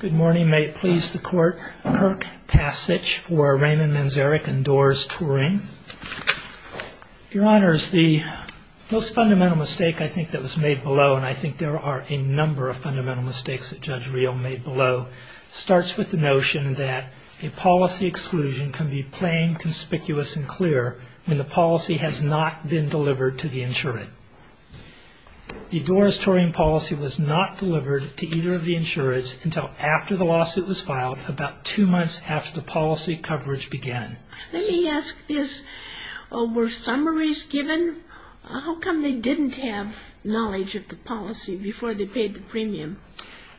Good morning. May it please the Court, Kirk Passage for Raymond Manzarek and Doris Turing. Your Honors, the most fundamental mistake I think that was made below, and I think there are a number of fundamental mistakes that Judge Reel made below, starts with the notion that a policy exclusion can be plain, conspicuous, and clear when the policy has not been delivered to the insurant. The Doris Turing policy was not delivered to either of the insurants until after the lawsuit was filed, about two months after the policy coverage began. Let me ask this. Were summaries given? How come they didn't have knowledge of the policy before they paid the premium?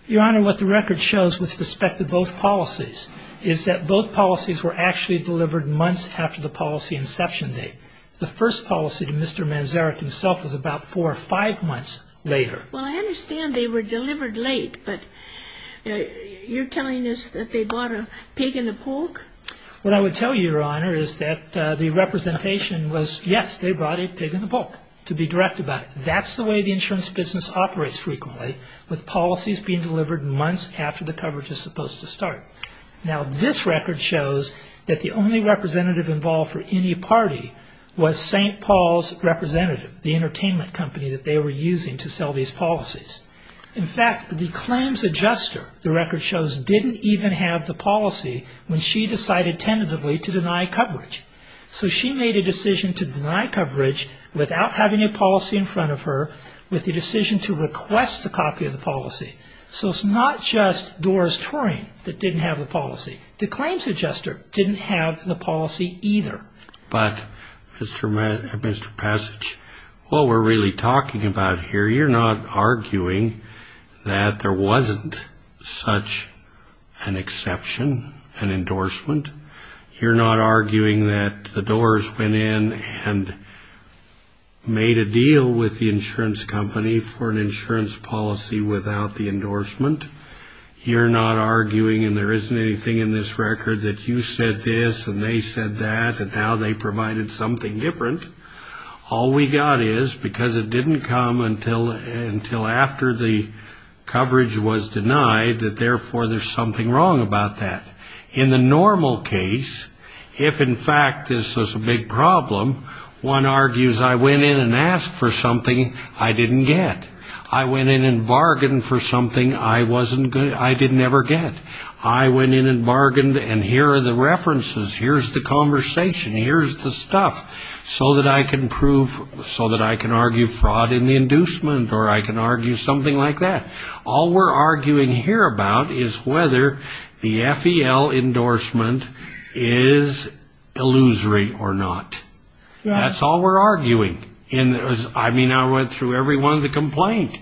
Your Honor, what the record shows with respect to both policies is that both policies were actually delivered months after the policy inception date. The first policy to Mr. Manzarek himself was about four or five months later. Well, I understand they were delivered late, but you're telling us that they bought a pig and a pork? What I would tell you, Your Honor, is that the representation was, yes, they bought a pig and a pork, to be direct about it. That's the way the insurance business operates frequently, with policies being delivered months after the coverage is supposed to start. Now, this record shows that the only representative involved for any party was St. Paul's Representative, the entertainment company that they were using to sell these policies. In fact, the claims adjuster, the record shows, didn't even have the policy when she decided tentatively to deny coverage. So she made a decision to deny coverage without having a policy in front of her, with the decision to request a copy of the policy. So it's not just Doris Turing that didn't have the policy. The claims adjuster didn't have the policy either. But, Mr. Passage, what we're really talking about here, you're not arguing that there wasn't such an exception, an endorsement. You're not arguing that the Doors went in and made a deal with the insurance company for an insurance policy without the endorsement. You're not arguing, and there isn't anything in this record, that you said this and they said that, and now they provided something different. All we got is, because it didn't come until after the coverage was denied, that therefore there's something wrong about that. In the normal case, if in fact this was a big problem, one argues, I went in and I didn't ever get. I went in and bargained, and here are the references, here's the conversation, here's the stuff, so that I can prove, so that I can argue fraud in the inducement, or I can argue something like that. All we're arguing here about is whether the FEL endorsement is illusory or not. That's all we're arguing. I mean, I went through every one of the complaints.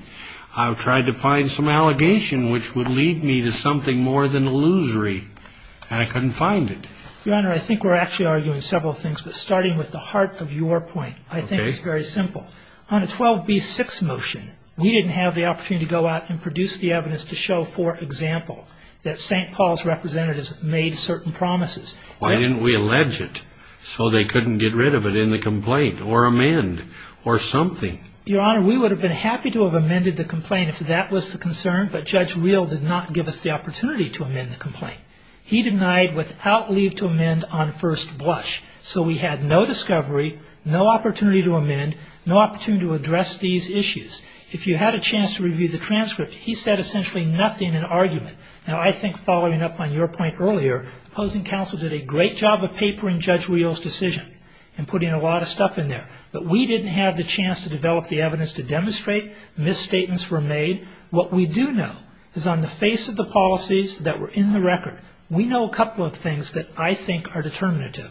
I've tried to find some allegation which would lead me to something more than illusory, and I couldn't find it. Your Honor, I think we're actually arguing several things, but starting with the heart of your point, I think it's very simple. On a 12b-6 motion, we didn't have the opportunity to go out and produce the evidence to show, for example, that St. Paul's representatives made certain promises. Why didn't we allege it, so they couldn't get rid of it in the complaint, or amend, or something? Your Honor, we would have been happy to have amended the complaint if that was the concern, but Judge Reel did not give us the opportunity to amend the complaint. He denied without leave to amend on first blush, so we had no discovery, no opportunity to amend, no opportunity to address these issues. If you had a chance to review the transcript, he said essentially nothing in argument. Now, I think following up on your point earlier, opposing counsel did a great job of papering Judge Reel's decision, and putting a lot of stuff in there, but we didn't have the chance to develop the evidence to demonstrate misstatements were made. What we do know is on the face of the policies that were in the record, we know a couple of things that I think are determinative.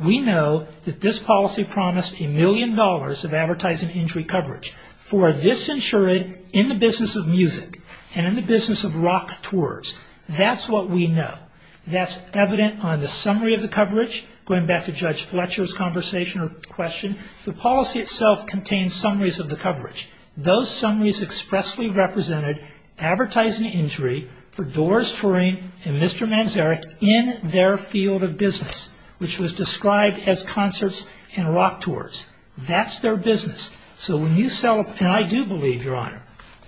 We know that this policy promised a million dollars of advertising injury coverage for this insured in the business of music, and in the business of rock tours. That's what we know. That's evident on the summary of the coverage, going back to Judge Fletcher's conversation or question, the policy itself contains summaries of the coverage. Those summaries expressly represented advertising injury for Doris Turing and Mr. Manzarek in their field of business, which was described as concerts and rock tours. That's their business. So when you sell, and I do believe, Your Honor,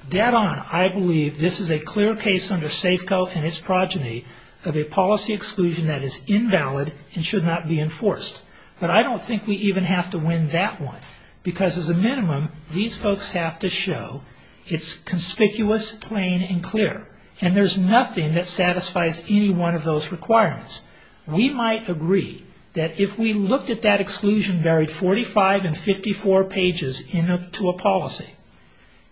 dead on, I believe this is a clear case under Safeco and its progeny of a policy exclusion that is invalid and should not be enforced. But I don't think we even have to win that one, because as a minimum, these folks have to show it's conspicuous, plain, and clear. And there's nothing that satisfies any one of those requirements. We might agree that if we looked at that exclusion buried 45 and 54 pages into a policy,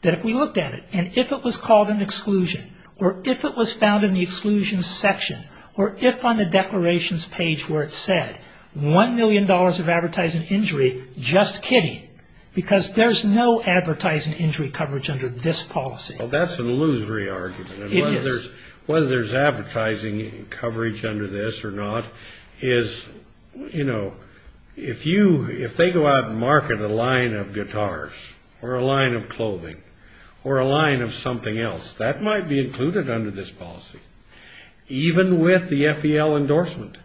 that if we looked at it, and if it was called an exclusion, or if it was found in the exclusion section, or if on the declarations page where it said $1 million of advertising injury, just kidding, because there's no advertising injury coverage under this policy. Well, that's an illusory argument. It is. Whether there's advertising coverage under this or not is, you know, if you, if they go out and market a line of guitars, or a line of clothing, or a line of something else, that might be included under this policy, even with the FEL endorsement.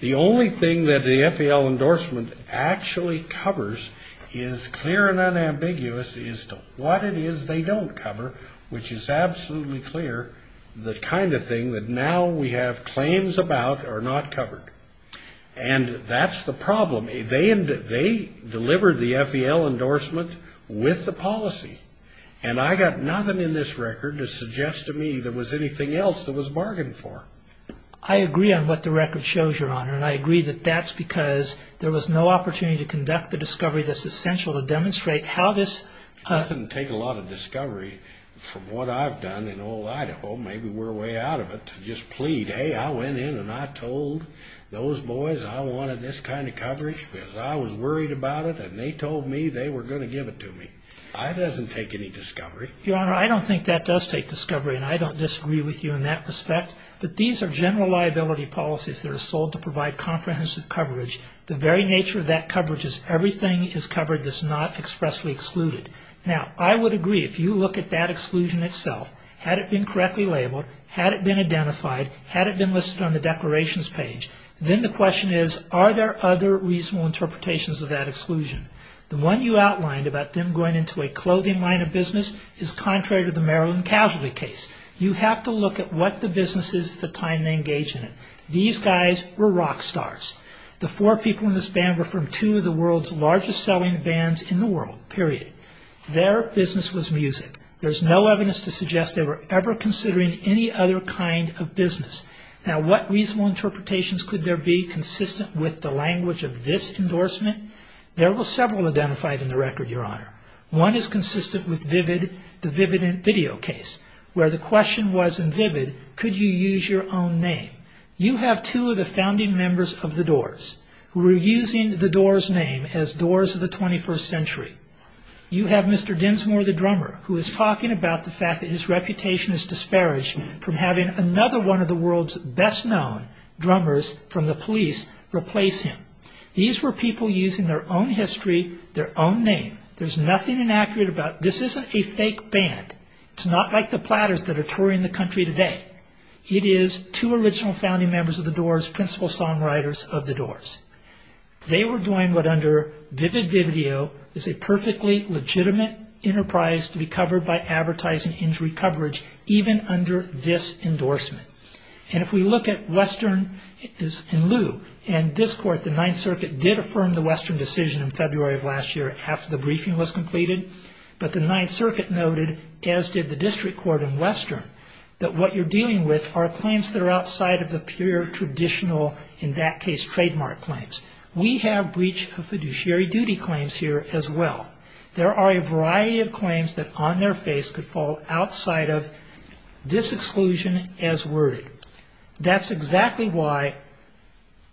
The only thing that the FEL endorsement actually covers is clear and unambiguous as to what it is they don't cover, which is absolutely clear, the kind of thing that now we have claims about are not covered. And that's the problem. They delivered the FEL endorsement with the policy. And I got nothing in this record to suggest to me there was anything else that was bargained for. I agree on what the record shows, Your Honor, and I agree that that's because there was no opportunity to conduct the discovery that's essential to demonstrate how this... It doesn't take a lot of discovery from what I've done in old Idaho, maybe we're way out of it, to just plead, hey, I went in and I told those boys I wanted this kind of coverage because I was worried about it, and they told me they were going to give it to me. It doesn't take any discovery. Your Honor, I don't think that does take discovery, and I don't disagree with you in that respect, but these are general liability policies that are sold to provide comprehensive coverage. The very nature of that coverage is everything is covered that's not expressly excluded. Now, I would agree, if you look at that exclusion itself, had it been correctly labeled, had it been identified, had it been listed on the declarations page, then the question is, are there other reasonable interpretations of that exclusion? The one you outlined about them going into a clothing line of business is contrary to the Maryland Casualty case. You have to look at what the business is at the time they engaged in it. These guys were rock stars. The four people in this band were from two of the world's largest selling bands in the world, period. Their business was music. There's no evidence to suggest they were ever considering any other kind of business. Now, what reasonable interpretations could there be consistent with the language of this endorsement? There were several identified in the record, Your Honor. One is consistent with Vivid, the Vivid video case, where the question was in Vivid, could you use your own name? You have two of the founding members of the Doors who were using the Doors name as Doors of the 21st century. You have Mr. Dinsmore, the drummer, who is talking about the fact that his reputation is disparaged from having another one of the world's best-known drummers from the police replace him. These were people using their own history, their own name. There's nothing inaccurate about this. This isn't a fake band. It's not like the Platters that are touring the country today. It is two original founding members of the Doors, principal songwriters of the Doors. They were doing what under Vivid Vividio is a perfectly legitimate enterprise to be covered by advertising injury coverage even under this endorsement. If we look at Western and Lew and this court, the Ninth Circuit, in February of last year, after the briefing was completed, but the Ninth Circuit noted, as did the district court in Western, that what you're dealing with are claims that are outside of the pure traditional, in that case, trademark claims. We have breach of fiduciary duty claims here as well. There are a variety of claims that on their face could fall outside of this exclusion as worded. That's exactly why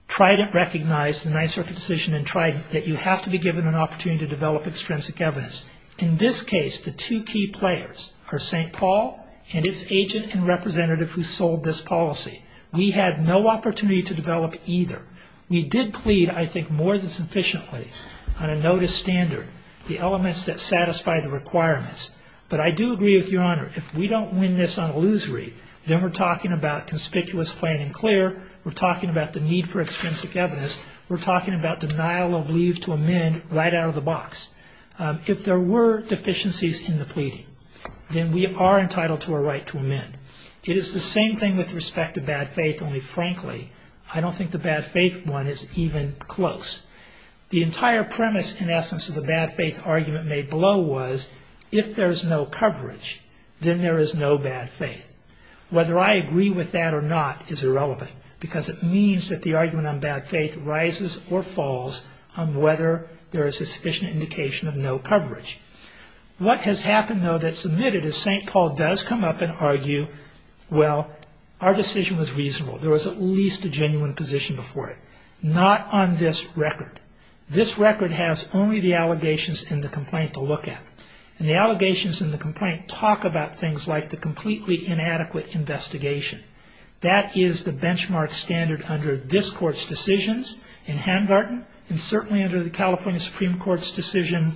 Trident recognized the claim that you have to be given an opportunity to develop extrinsic evidence. In this case, the two key players are St. Paul and its agent and representative who sold this policy. We had no opportunity to develop either. We did plead, I think, more than sufficiently on a notice standard, the elements that satisfy the requirements. But I do agree with Your Honor, if we don't win this on illusory, then we're talking about conspicuous plain and clear. We're talking about the need for extrinsic evidence. We're talking about denial of leave to amend right out of the box. If there were deficiencies in the pleading, then we are entitled to a right to amend. It is the same thing with respect to bad faith, only frankly, I don't think the bad faith one is even close. The entire premise, in essence, of the bad faith argument made below was, if there's no coverage, then there is no bad faith. Whether I agree with that or not is irrelevant, because it means that the argument on bad faith rises or falls on whether there is a sufficient indication of no coverage. What has happened, though, that's omitted is St. Paul does come up and argue, well, our decision was reasonable. There was at least a genuine position before it. Not on this record. This record has only the allegations and the complaint to look at. And the allegations and the complaint talk about things like the completely inadequate investigation. That is the benchmark standard under this Court's decisions in Handgarten, and certainly under the California Supreme Court's decision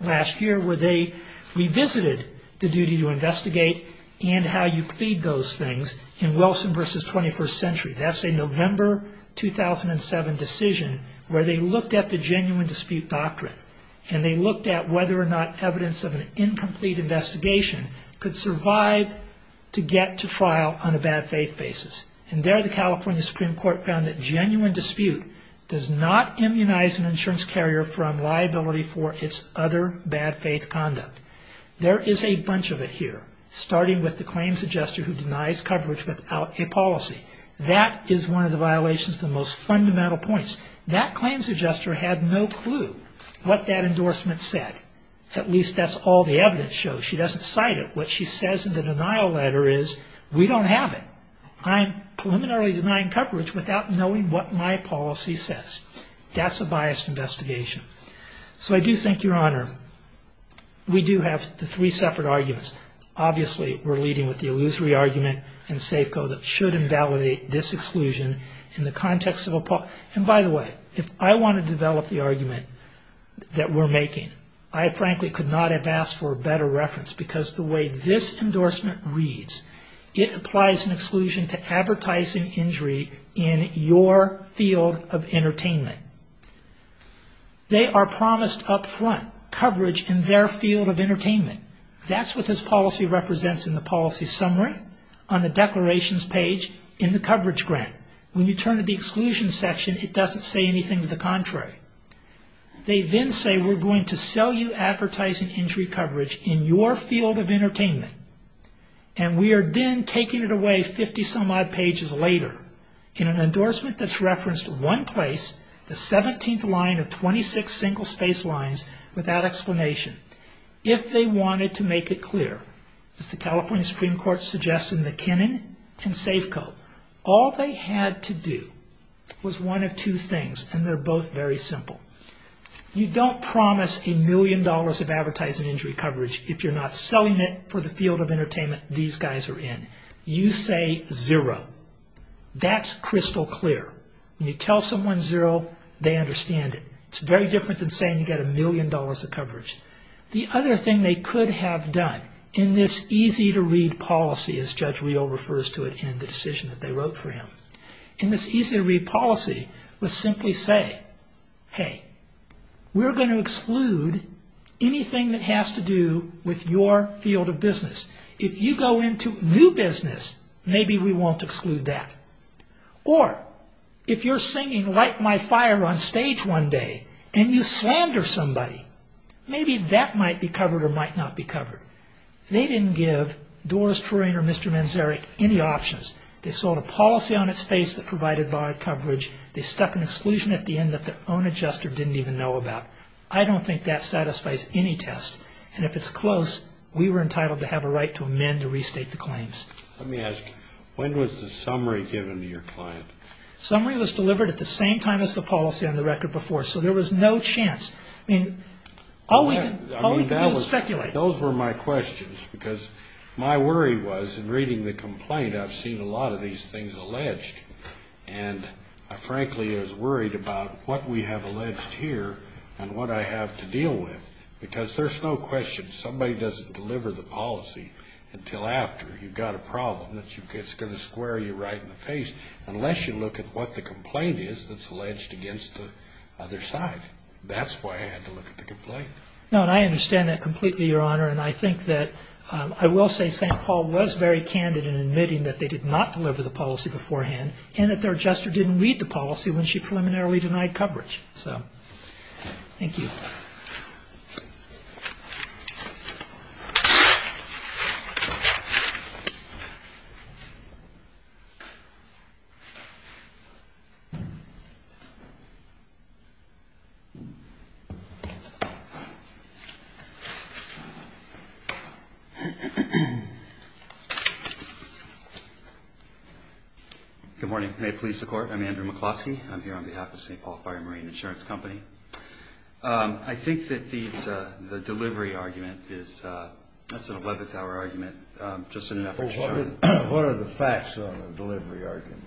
last year, where they revisited the duty to investigate and how you plead those things in Wilson v. 21st Century. That's a November 2007 decision where they looked at the genuine dispute doctrine. And they looked at whether or not evidence of an incomplete investigation could survive to get to trial on a bad faith basis. And there the California Supreme Court found that genuine dispute does not immunize an insurance carrier from liability for its other bad faith conduct. There is a bunch of it here, starting with the claims adjuster who denies coverage without a policy. That is one of the violations of the most fundamental points. That claims adjuster had no clue what that endorsement said. At least that's all the evidence shows. She doesn't cite it. What she says in the denial letter is, we don't have it. I'm preliminarily denying coverage without knowing what my policy says. That's a biased investigation. So I do think, Your Honor, we do have the three separate arguments. Obviously, we're leading with the illusory argument and safe code that should invalidate this exclusion in the context of a... And by the way, if I want to develop the argument that we're making, I frankly could not have asked for a better reference because the way this endorsement reads, it applies an exclusion to advertising injury in your field of entertainment. They are promised up front coverage in their field of entertainment. That's what this policy represents in the policy summary, on the declarations page, in the coverage grant. When you turn to the exclusion section, it doesn't say anything to the contrary. They then say, we're going to sell you advertising injury coverage in your field of entertainment. And we are then taking it away 50 some odd pages later in an endorsement that's referenced one place, the 17th line of 26 single space lines without explanation. If they wanted to make it clear, as the California Supreme Court suggests in You don't promise a million dollars of advertising injury coverage if you're not selling it for the field of entertainment these guys are in. You say zero. That's crystal clear. When you tell someone zero, they understand it. It's very different than saying you get a million dollars of coverage. The other thing they could have done in this easy-to-read policy, as Judge Riehl refers to it in the decision that they wrote for him, in this Hey, we're going to exclude anything that has to do with your field of business. If you go into new business, maybe we won't exclude that. Or if you're singing Light My Fire on stage one day and you slander somebody, maybe that might be covered or might not be covered. They didn't give Doris Turing or Mr. Manzarek any options. They sold a policy on its face that provided barred coverage. They stuck an exclusion at the end that their own adjuster didn't even know about. I don't think that satisfies any test. And if it's close, we were entitled to have a right to amend or restate the claims. Let me ask you, when was the summary given to your client? Summary was delivered at the same time as the policy on the record before, so there was no chance. I mean, all we could do was speculate. Those were my questions because my worry was, in reading the complaint, I've seen a lot of these things alleged. And I, frankly, was worried about what we have alleged here and what I have to deal with. Because there's no question somebody doesn't deliver the policy until after you've got a problem that's going to square you right in the face, unless you look at what the complaint is that's alleged against the other side. That's why I had to look at the complaint. No, and I understand that completely, Your Honor. And I think that I will say St. Paul was very candid in admitting that they did not deliver the policy beforehand and that their adjuster didn't read the policy when she preliminarily denied coverage. So, thank you. Good morning. May it please the Court, I'm Andrew McCloskey. I'm here on behalf of St. Paul. I think that these, the delivery argument is, that's an 11th-hour argument, just in an effort to... Well, what are the facts on the delivery argument?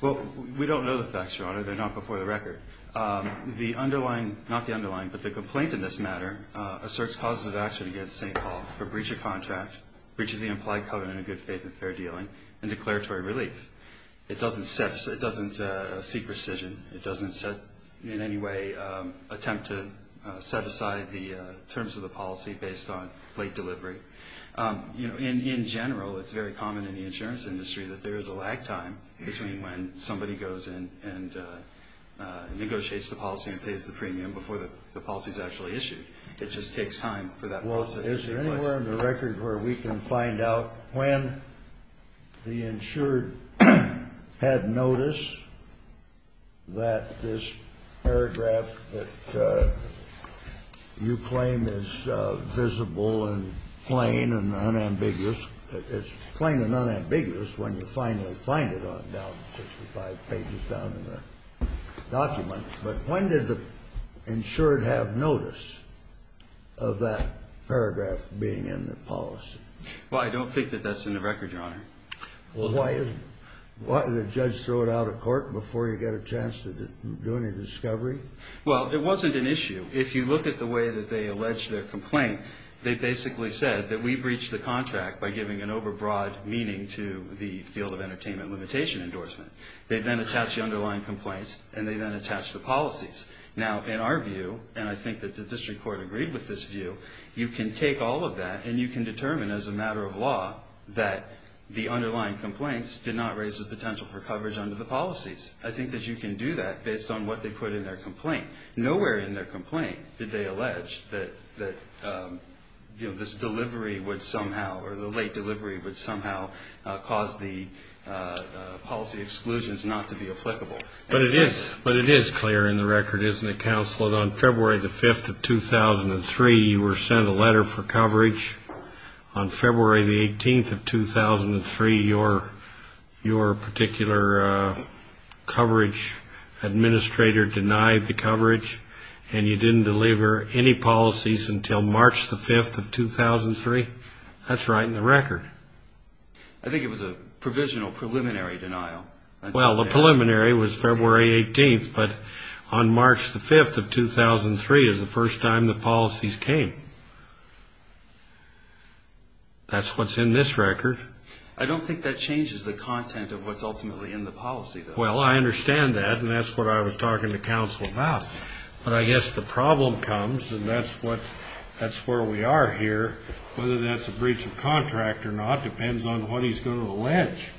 Well, we don't know the facts, Your Honor. They're not before the record. The underlying, not the underlying, but the complaint in this matter asserts causes of action against St. Paul for breach of contract, breach of the implied covenant of good faith and fair dealing, and declaratory relief. It doesn't set, it doesn't seek rescission. It doesn't, in any way, attempt to set aside the terms of the policy based on late delivery. You know, in general, it's very common in the insurance industry that there is a lag time between when somebody goes in and negotiates the policy and pays the premium before the policy is actually issued. It just takes time for that process to take place. Well, we're on the record where we can find out when the insured had notice that this paragraph that you claim is visible and plain and unambiguous, it's plain and unambiguous when you finally find it on down, 65 pages down in the document. But when did the insured have notice of that paragraph being in the policy? Well, I don't think that that's in the record, Your Honor. Well, why isn't it? Why, did the judge throw it out of court before you got a chance to do any discovery? Well, it wasn't an issue. If you look at the way that they alleged their complaint, they basically said that we breached the contract by giving an overbroad meaning to the field of entertainment limitation endorsement. They then attached the underlying complaints, and they then attached the policies. Now, in our view, and I think that the district court agreed with this view, you can take all of that and you can determine as a matter of law that the underlying complaints did not raise the potential for coverage under the policies. I think that you can do that based on what they put in their complaint. Nowhere in their complaint did they allege that this delivery would somehow, or the late delivery would somehow cause the policy exclusions not to be applicable. But it is clear in the record, isn't it, counsel, that on February the 5th of 2003, you were sent a letter for coverage. On February the 18th of 2003, your particular coverage administrator denied the coverage, and you didn't deliver any policies until March the 5th of 2003? That's right in the record. I think it was a provisional preliminary denial. Well, the preliminary was February 18th, but on March the 5th of 2003 is the first time the policies came. That's what's in this record. I don't think that changes the content of what's ultimately in the policy, though. Well, I understand that, and that's what I was talking to counsel about. But I guess the problem comes, and that's where we are here, whether that's a breach of contract or not depends on what he's going to allege.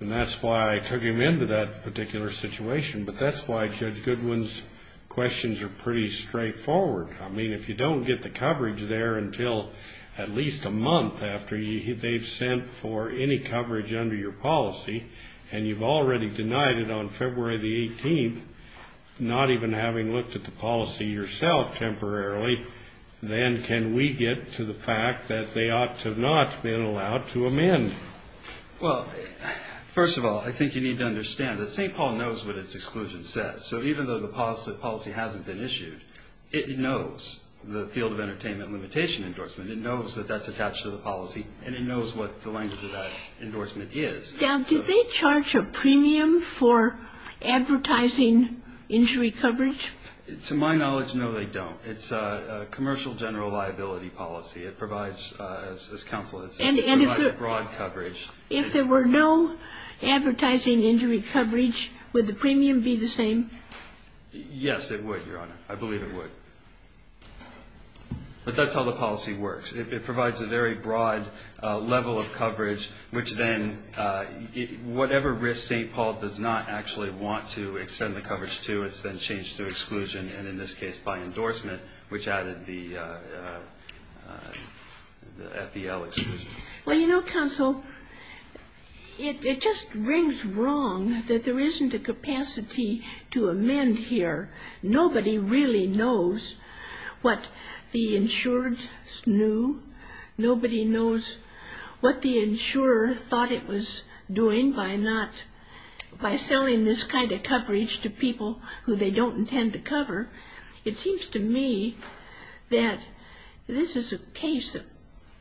And that's why I took him into that particular situation, but that's why Judge Goodwin's questions are pretty straightforward. I mean, if you don't get the coverage there until at least a month after they've sent for any coverage under your policy, and you've already denied it on February the 18th, not even having looked at the policy yourself temporarily, then can we get to the fact that they ought to have not been allowed to amend? Well, first of all, I think you need to understand that St. Paul knows what its exclusion says. So even though the policy hasn't been issued, it knows the field of entertainment limitation endorsement. It knows that that's attached to the policy, and it knows what the language of that endorsement is. Now, do they charge a premium for advertising injury coverage? To my knowledge, no, they don't. It's a commercial general liability policy. It provides as counsel has said, it provides broad coverage. And if there were no advertising injury coverage, would the premium be the same? Yes, it would, Your Honor. I believe it would. But that's how the policy works. It provides a very broad level of coverage, which then, whatever risk St. Paul does not actually want to extend the coverage to, it's then changed to exclusion, and in this case, by endorsement, which added the FEL exclusion. Well, you know, counsel, it just rings wrong that there isn't a capacity to amend here. Nobody really knows what the insured knew. Nobody knows what the insurer thought it was doing by not, by selling this kind of coverage to people who they don't intend to cover. It seems to me that this is a case that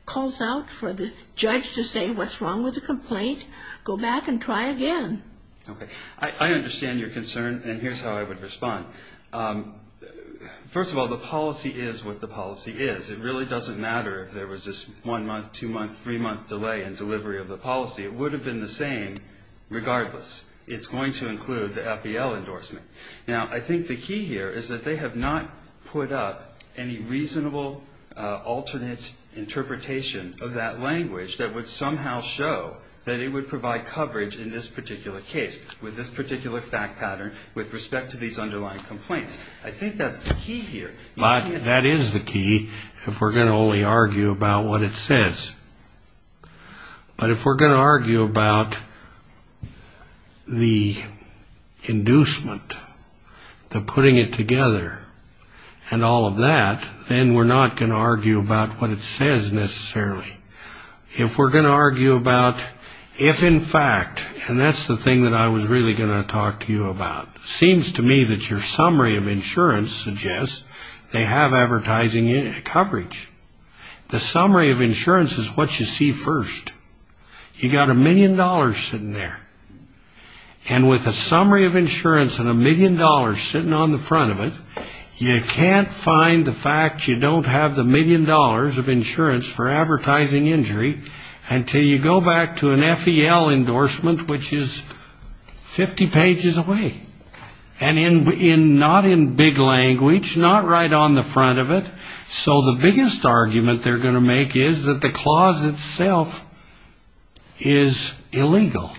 calls out for the judge to say, what's wrong with the complaint? Go back and try again. Okay. I understand your concern, and here's how I would respond. First of all, the policy is what the policy is. It really doesn't matter if there was this one month, two month, three month delay in delivery of the policy. It would have been the same regardless. It's going to include the FEL endorsement. Now, I think the key here is that they have not put up any reasonable alternate interpretation of that language that would somehow show that it would provide coverage in this particular case with this particular fact pattern with respect to these underlying complaints. I think that's the key here. That is the key if we're going to only argue about what it says. But if we're going to argue about the inducement, the putting it together, and all of that, then we're not going to argue about what it says necessarily. If we're going to argue about if in fact, and that's the thing that I was really going to talk to you about. It seems to me that your summary of insurance suggests they have advertising coverage. The summary of insurance is what you see first. You've got a million dollars sitting there, and with a summary of insurance and a million dollars sitting on the front of it, you can't find the fact you don't have the million dollars of insurance for advertising injury until you go back to an FEL endorsement, which is 50 pages away, and not in big language, not right on the front of it. So the biggest argument they're going to make is that the clause itself is illegal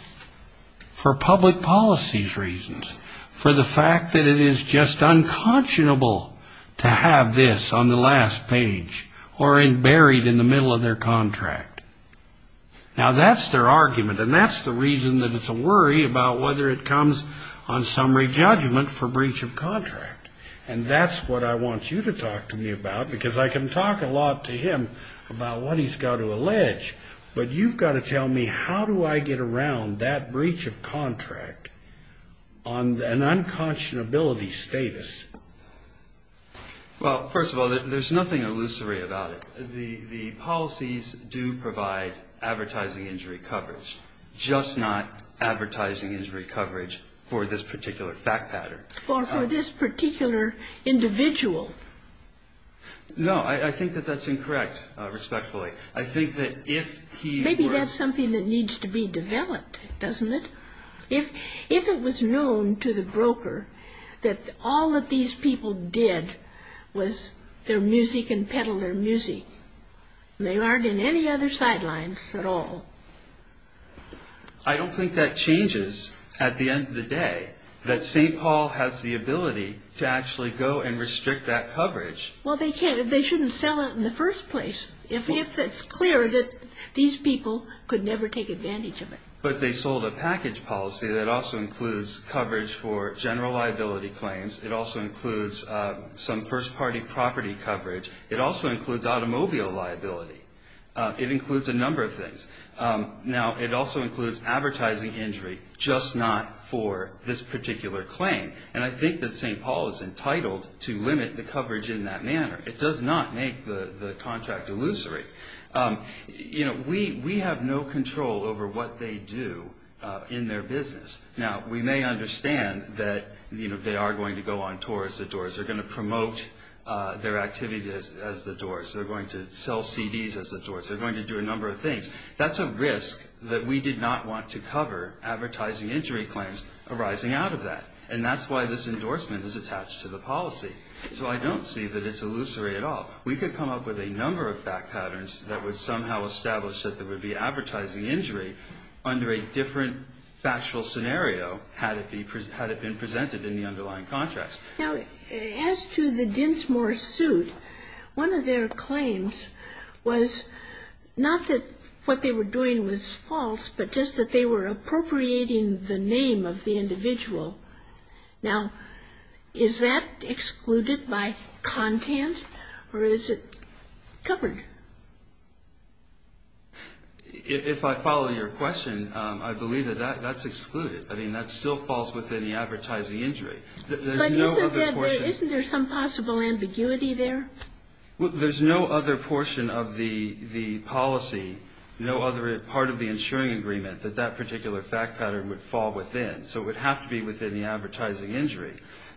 for public policy's reasons, for the fact that it is just unconscionable to have this on the last page, or buried in the middle of their contract. Now that's their argument, and that's the reason that it's a worry about whether it comes on summary judgment for breach of contract. And that's what I want you to talk to me about, because I can talk a lot to him about what he's got to allege, but you've got to tell me how do I get around that breach of contract on an unconscionability status. Well, first of all, there's nothing illusory about it. The policies do provide advertising injury coverage, just not advertising injury coverage for this particular fact pattern. Or for this particular individual. No, I think that that's incorrect, respectfully. I think that if he were Maybe that's something that needs to be developed, doesn't it? If it was known to the broker that all that these people did was their music and peddle their music. They aren't in any other sidelines at all. I don't think that changes at the end of the day, that St. Paul has the ability to actually go and restrict that coverage. Well, they shouldn't sell it in the first place, if it's clear that these people could never take advantage of it. But they sold a package policy that also includes coverage for general liability claims. It also includes some first party property coverage. It also includes automobile liability. It includes a number of things. Now it also includes advertising injury, just not for this particular claim. And I think that St. Paul is entitled to limit the coverage in that manner. It does not make the contract illusory. You know, we have no control over what they do in their business. Now, we may understand that, you know, they are going to go on tour as the Doors. They're going to promote their activities as the Doors. They're going to sell CDs as the Doors. They're going to do a number of things. That's a risk that we did not want to cover advertising injury claims arising out of that. And that's why this endorsement is attached to the policy. So I don't see that it's illusory at all. We could come up with a number of fact patterns that would somehow establish that there would be advertising injury under a different factual scenario had it been presented in the underlying contracts. Now, as to the Dinsmore suit, one of their claims was not that what they were doing was false, but just that they were appropriating the name of the individual. Now, is that excluding by content, or is it covered? If I follow your question, I believe that that's excluded. I mean, that still falls within the advertising injury. But isn't there some possible ambiguity there? Well, there's no other portion of the policy, no other part of the insuring agreement that that particular fact pattern would fall within. So it would have to be within the fact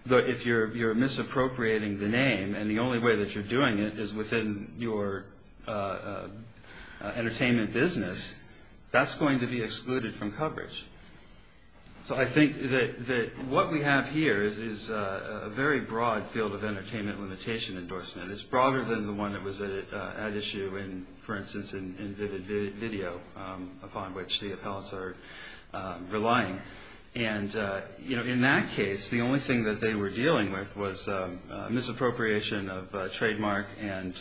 that if you're appropriating the name and the only way that you're doing it is within your entertainment business, that's going to be excluded from coverage. So I think that what we have here is a very broad field of entertainment limitation endorsement. It's broader than the one that was at issue in, for instance, in Vivid Video, upon which the appellants are relying. And in that case, the only thing that they were dealing with was misappropriation of trademark and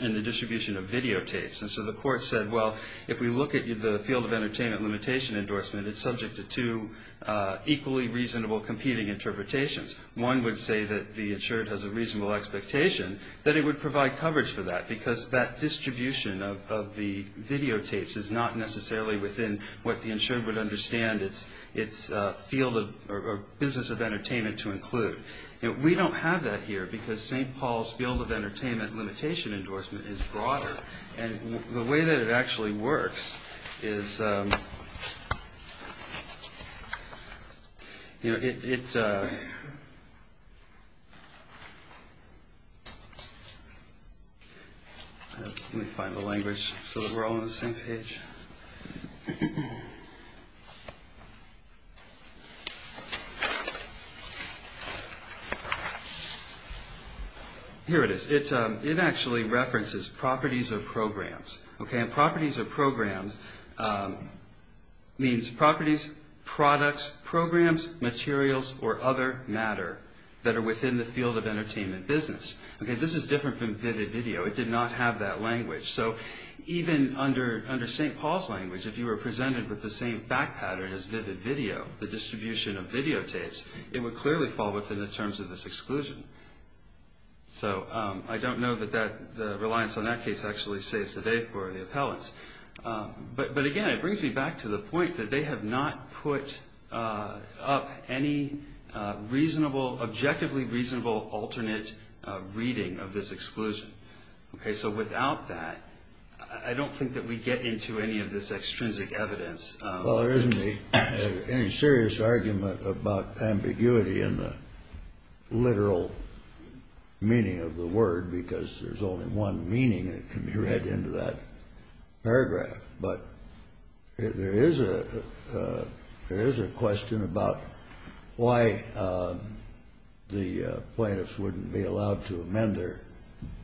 the distribution of videotapes. And so the court said, well, if we look at the field of entertainment limitation endorsement, it's subject to two equally reasonable competing interpretations. One would say that the insured has a reasonable expectation that it would provide coverage for that, because that distribution of the videotapes is not necessarily within what the insured would understand its field of, or business of entertainment to include. We don't have that here, because St. Paul's field of entertainment limitation endorsement is broader. And the way that it actually works is, you know, it, let me find the language so that we're all on the same page. Here it is. It actually references properties of programs. Okay, and properties of programs means properties, products, programs, materials, or other matter that are within the field of entertainment business. Okay, this is different from Vivid Video, that language. So even under St. Paul's language, if you were presented with the same fact pattern as Vivid Video, the distribution of videotapes, it would clearly fall within the terms of this exclusion. So I don't know that that, the reliance on that case actually saves the day for the appellants. But again, it brings me back to the point that they have not put up any reasonable, objectively reasonable alternate reading of this exclusion. Okay, so without that, I don't think that we get into any of this extrinsic evidence. Well, there isn't any serious argument about ambiguity in the literal meaning of the word, because there's only one meaning that can be read into that paragraph. But there is a question about why the plaintiffs wouldn't be allowed to amend their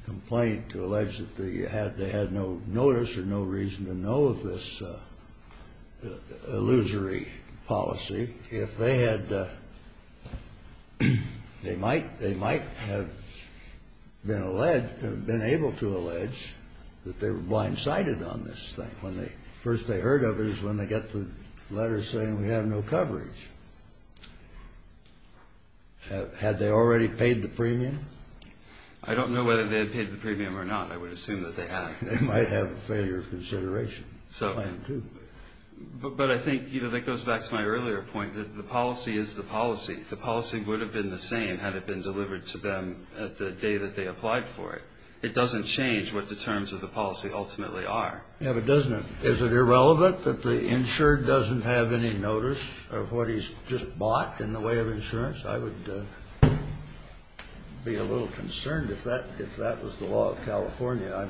complaint to allege that they had no notice or no reason to know of this illusory policy. If they had, they might have been able to allege that they were blindsided on this thing. The first they heard of it is when they get the letter saying we have no coverage. Had they already paid the premium? I don't know whether they had paid the premium or not. I would assume that they had. They might have a failure of consideration. So. But I think, you know, that goes back to my earlier point that the policy is the policy. The policy would have been the same had it been delivered to them the day that they applied for it. It doesn't change what the terms of the policy ultimately are. Yeah, but doesn't it, is it irrelevant that the insured doesn't have any notice of what he's just bought in the way of insurance? I would be a little concerned if that was the law of California.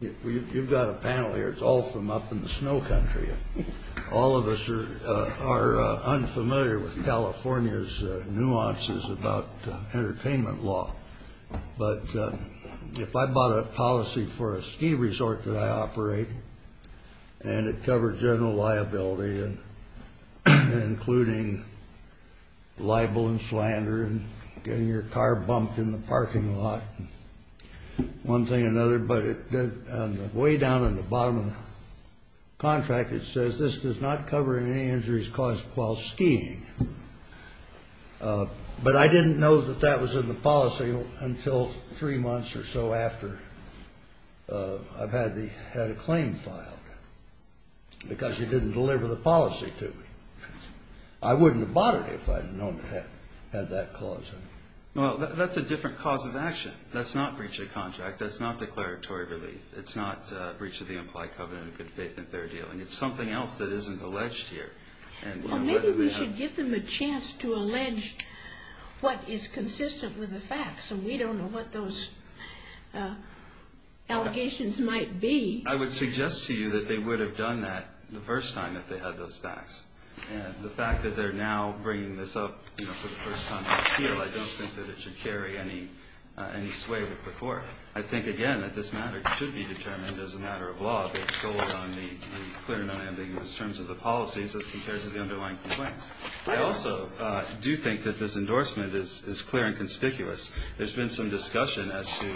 You've got a panel here. It's all from up in the snow country. All of us are unfamiliar with California's nuances about entertainment law. But if I bought a policy for a ski resort that I operate and it covered general liability and including libel and slander and getting your car bumped in the parking lot and one thing or another, but on the way down in the bottom of the contract it says this does not cover any injuries caused while skiing. But I didn't know that that was in the policy until three months or so after I had a claim filed. Because you didn't deliver the policy to me. I wouldn't have bought it if I had known it had that clause in it. Well, that's a different cause of action. That's not breach of contract. That's not declaratory relief. It's not breach of the implied covenant of good faith and fair dealing. It's something else that isn't alleged here. Well, maybe we should give them a chance to allege what is consistent with the facts. And we don't know what those allegations might be. I would suggest to you that they would have done that the first time if they had those facts. And the fact that they're now bringing this up for the first time in appeal, I don't think that it should carry any sway with before. I think, again, that this matter should be determined as a matter of law based solely on the clear and unambiguous terms of the policies as compared to the underlying complaints. I also do think that this endorsement is clear and conspicuous. There's been some discussion as to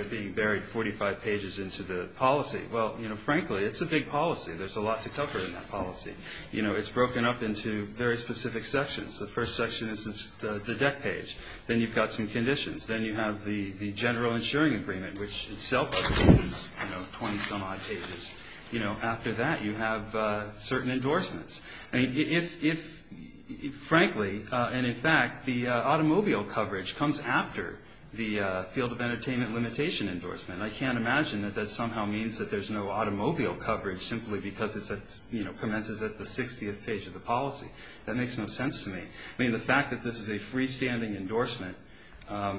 it being buried 45 pages into the policy. Well, frankly, it's a big policy. There's a lot to cover in that policy. It's broken up into very specific sections. The first section is the deck page. Then you've got some conditions. Then you have the general insuring agreement, which itself is 20-some odd pages. After that, you have certain endorsements. Frankly, and in fact, the automobile coverage comes after the field of entertainment limitation endorsement. I can't imagine that that somehow means that there's no automobile coverage simply because it commences at the 60th page of the policy. That makes no sense to me. The fact that this is a freestanding endorsement,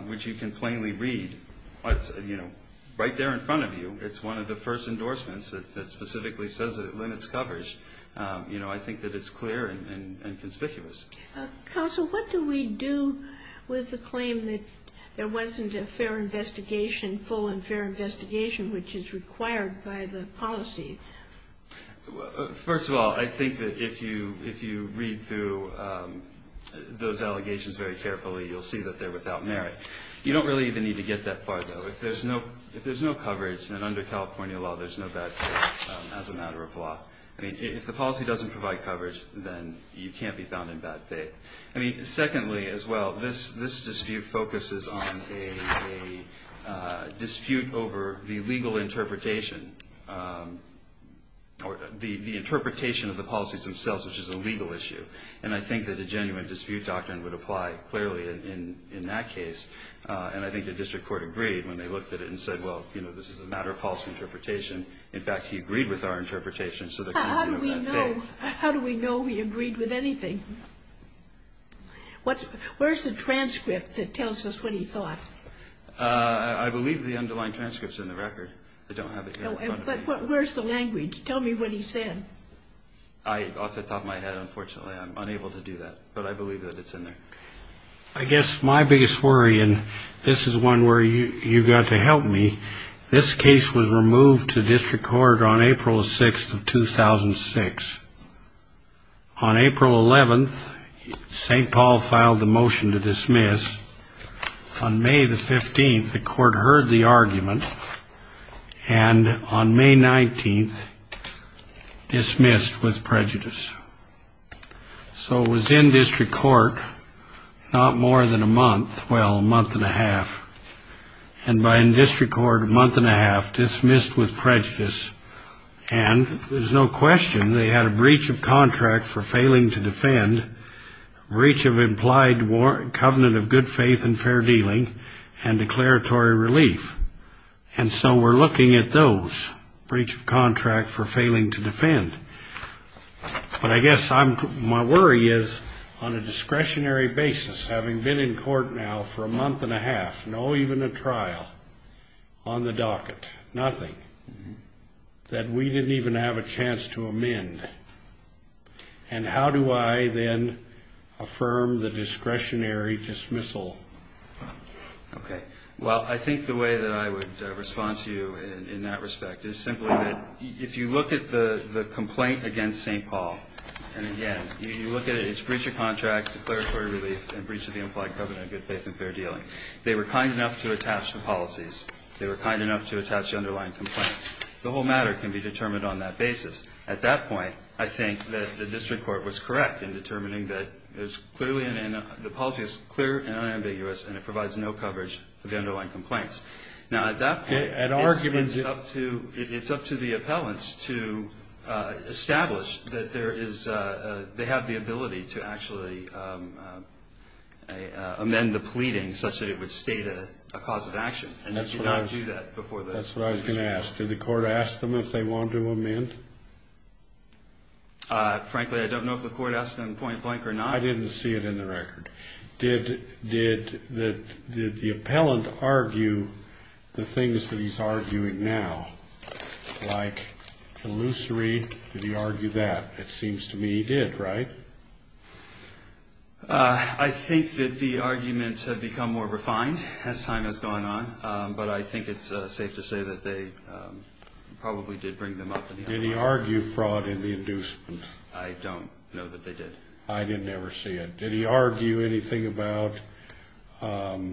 which you can plainly read right there in front of you, it's one of the first endorsements that specifically says it limits coverage, I think that it's clear and conspicuous. Counsel, what do we do with the claim that there wasn't a fair investigation, full and fair investigation, which is required by the policy? First of all, I think that if you read through those allegations very carefully, you'll see that they're without merit. You don't really even need to get that far, though. If there's no coverage, then under California law, there's no bad faith as a matter of law. I mean, if the policy doesn't provide coverage, then you can't be found in bad faith. I mean, secondly, as well, this dispute focuses on a dispute over the legal interpretation or the interpretation of the policies themselves, which is a legal issue. And I think that a genuine dispute doctrine would apply clearly in that case. And I think the district court agreed when they looked at it and said, well, you know, this is a matter of false interpretation. In fact, he agreed with our interpretation. How do we know he agreed with anything? Where's the transcript that tells us what he thought? I believe the underlying transcript's in the record. I don't have it here in front of me. But where's the language? Tell me what he said. Off the top of my head, unfortunately, I'm unable to do that. But I believe that it's in there. I guess my biggest worry, and this is one where you got to help me, this case was removed to district court on April 6th of 2006. On April 11th, St. Paul filed the motion to dismiss. On May the 15th, the court heard the argument. And on May 19th, dismissed with prejudice. So it was in district court not more than a month, well, a month and a half. And by district court, a month and a half, dismissed with prejudice. And there's no question they had a breach of contract for failing to defend, breach of implied covenant of good faith and fair dealing, and declaratory relief. And so we're looking at those. Breach of contract for failing to defend. But I guess my worry is, on a discretionary basis, having been in court now for a month and a half, no even a trial, on the docket, nothing, that we didn't even have a chance to amend. And how do I then affirm the discretionary dismissal? Okay. Well, I think the way that I would respond to you in that respect is simply that if you look at the complaint against St. Paul, and again, you look at it, it's breach of contract, declaratory relief, and breach of the implied covenant of good faith and fair dealing. They were kind enough to attach the policies. They were kind enough to attach the underlying complaints. The whole matter can be determined on that basis. At that point, I think that the district court was correct in determining that the policy is clear and unambiguous, and it provides no coverage for the underlying complaints. Now, at that point, it's up to the appellants to establish that there is, they have the ability to actually amend the pleading such that it would state a cause of action. And it should not do that before the district court. That's what I was going to ask. Did the court ask them if they wanted to amend? Frankly, I don't know if the court asked them point blank or not. I didn't see it in the record. Did the appellant argue the things that he's arguing now, like illusory? Did he argue that? It seems to me he did, right? I think that the arguments have become more refined as time has gone on, but I think it's safe to say that they probably did bring them up. Did he argue fraud in the inducement? I don't know that they did. I didn't ever see it. Did he argue anything about the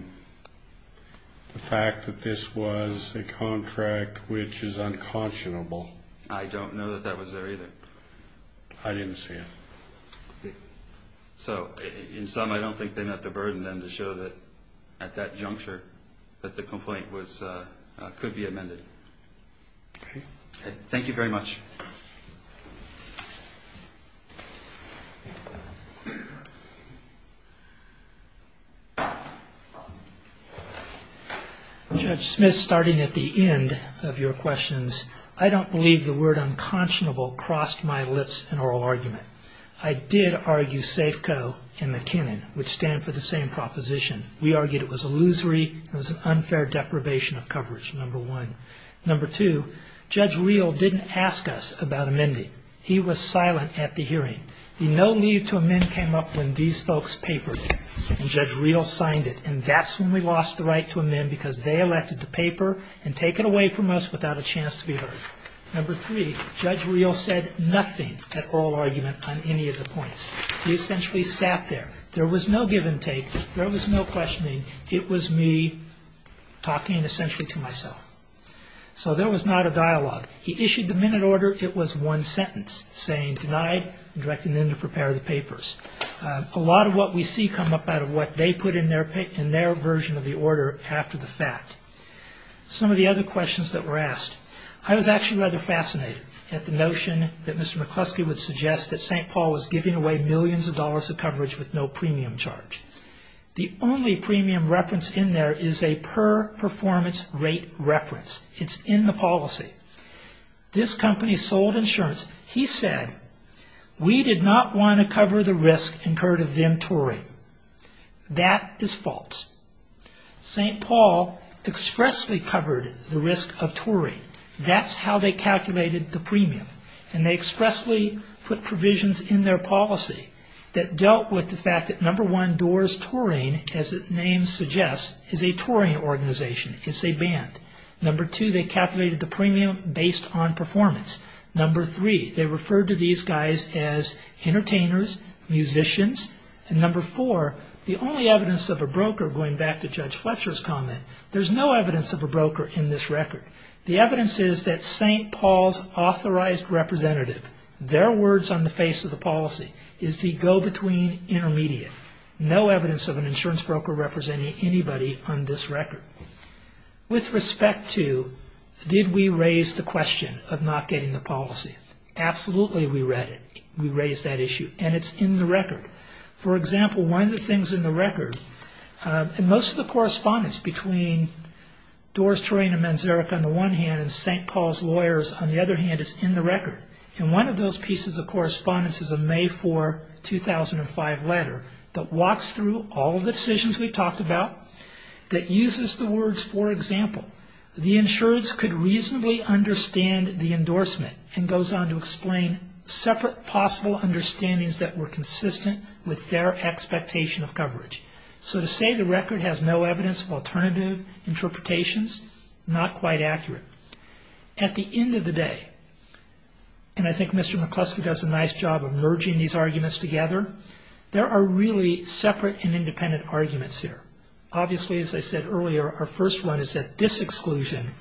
fact that this was a contract which is unconscionable? I don't know that that was there either. I didn't see it. So in sum, I don't think they met the burden then to show that at that juncture that the complaint could be amended. Thank you very much. Judge Smith, starting at the end of your questions, I don't believe the word unconscionable crossed my lips in oral argument. I did argue SAFEco and McKinnon, which stand for the same proposition. We argued it was illusory, it was an unfair deprivation of coverage, number one. Number two, Judge Reel didn't ask us about amending. He was silent at the hearing. The no need to amend came up when these folks papered it, and Judge Reel signed it, and that's when we lost the right to amend because they elected to paper and take it away from us without a chance to be heard. Number three, Judge Reel said nothing at oral argument on any of the points. He essentially sat there. There was no give and take. There was no questioning. It was me talking essentially to myself. So there was not a dialogue. He issued the minute order. It was one sentence, saying denied and directing them to prepare the papers. A lot of what we see come up out of what they put in their version of the order after the fact. Some of the other questions that were asked, I was actually rather fascinated at the notion that Mr. McCluskey would suggest that St. Paul was giving away millions of dollars of coverage with no premium charge. The only premium reference in there is a per performance rate reference. It's in the policy. This company sold insurance. He said, we did not want to cover the risk incurred of them touring. That is false. St. Paul expressly covered the risk of touring. That's how they calculated the premium, and they expressly put provisions in their policy that dealt with the fact that number one, Doors Touring, as the name suggests, is a touring organization. It's a band. Number two, they calculated the premium based on performance. Number three, they referred to these guys as entertainers, musicians. And number four, the only evidence of a broker, going back to Judge Fletcher's comment, there's no evidence of a broker in this record. The evidence is that St. Paul's authorized representative, their words on the face of the policy, is the go-between intermediate. No evidence of an insurance broker representing anybody on this record. With respect to, did we raise the question of not getting the policy? Absolutely, we raised that issue, and it's in the record. For example, one of the things in the record, and most of the correspondence between Doors Touring and Manzarek on the one hand, and St. Paul's lawyers on the other hand, is in the record. And one of those pieces of correspondence is a May 4, 2005 letter that walks through all of the decisions we've talked about, that uses the words, for example, the insurance could reasonably understand the endorsement, and goes on to explain separate possible understandings that were consistent with their expectation of coverage. So to say the record has no evidence of alternative interpretations, not quite accurate. At the end of the day, and I think Mr. McCluskey does a nice job of merging these arguments together, there are really separate and independent arguments here. Obviously, as I said earlier, our first one is that this exclusion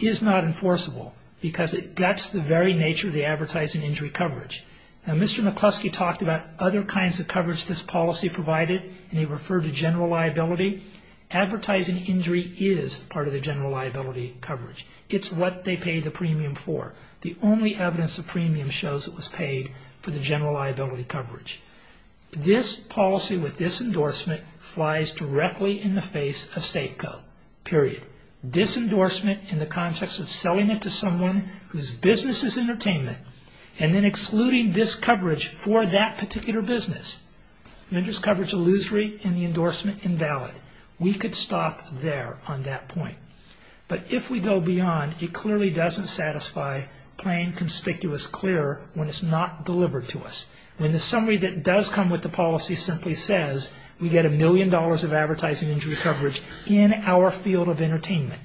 is not enforceable, because that's the very nature of the advertising injury coverage. Now, Mr. McCluskey talked about other kinds of coverage this policy provided, and he referred to general liability. Advertising injury is part of the general liability coverage. It's what they pay the premium for. The only evidence of premium shows it was paid for the general liability coverage. This policy with this endorsement flies directly in the face of safe code, period. This endorsement in the context of selling it to someone whose business is entertainment, and then excluding this coverage for that particular business, renders coverage illusory and the endorsement invalid. We could stop there on that point, but if we go beyond, it clearly doesn't satisfy playing conspicuous clear when it's not delivered to us. When the summary that does come with the policy simply says we get a million dollars of advertising injury coverage in our field of entertainment,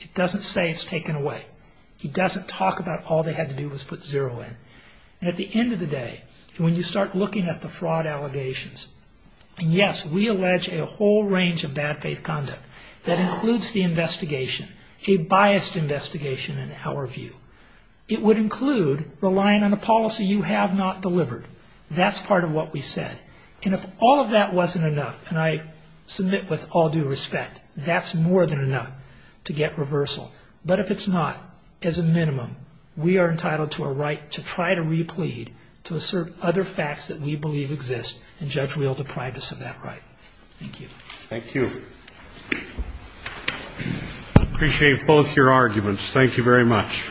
it doesn't say it's taken away. It doesn't talk about all they had to do was put zero in. And at the end of the day, when you start looking at the fraud allegations, and yes, we allege a whole range of bad faith conduct that includes the investigation, a biased investigation in our view. It would include relying on a policy you have not delivered. That's part of what we said. And if all of that wasn't enough, and I submit with all due respect, that's more than enough to get reversal. But if it's not, as a minimum, we are entitled to a right to try to replete, to assert other facts that we believe exist and judge real deprivance of that right. Thank you. Appreciate both your arguments. Thank you very much.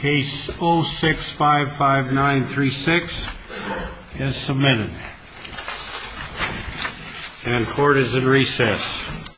Case 0655936 is submitted. And court is in recess.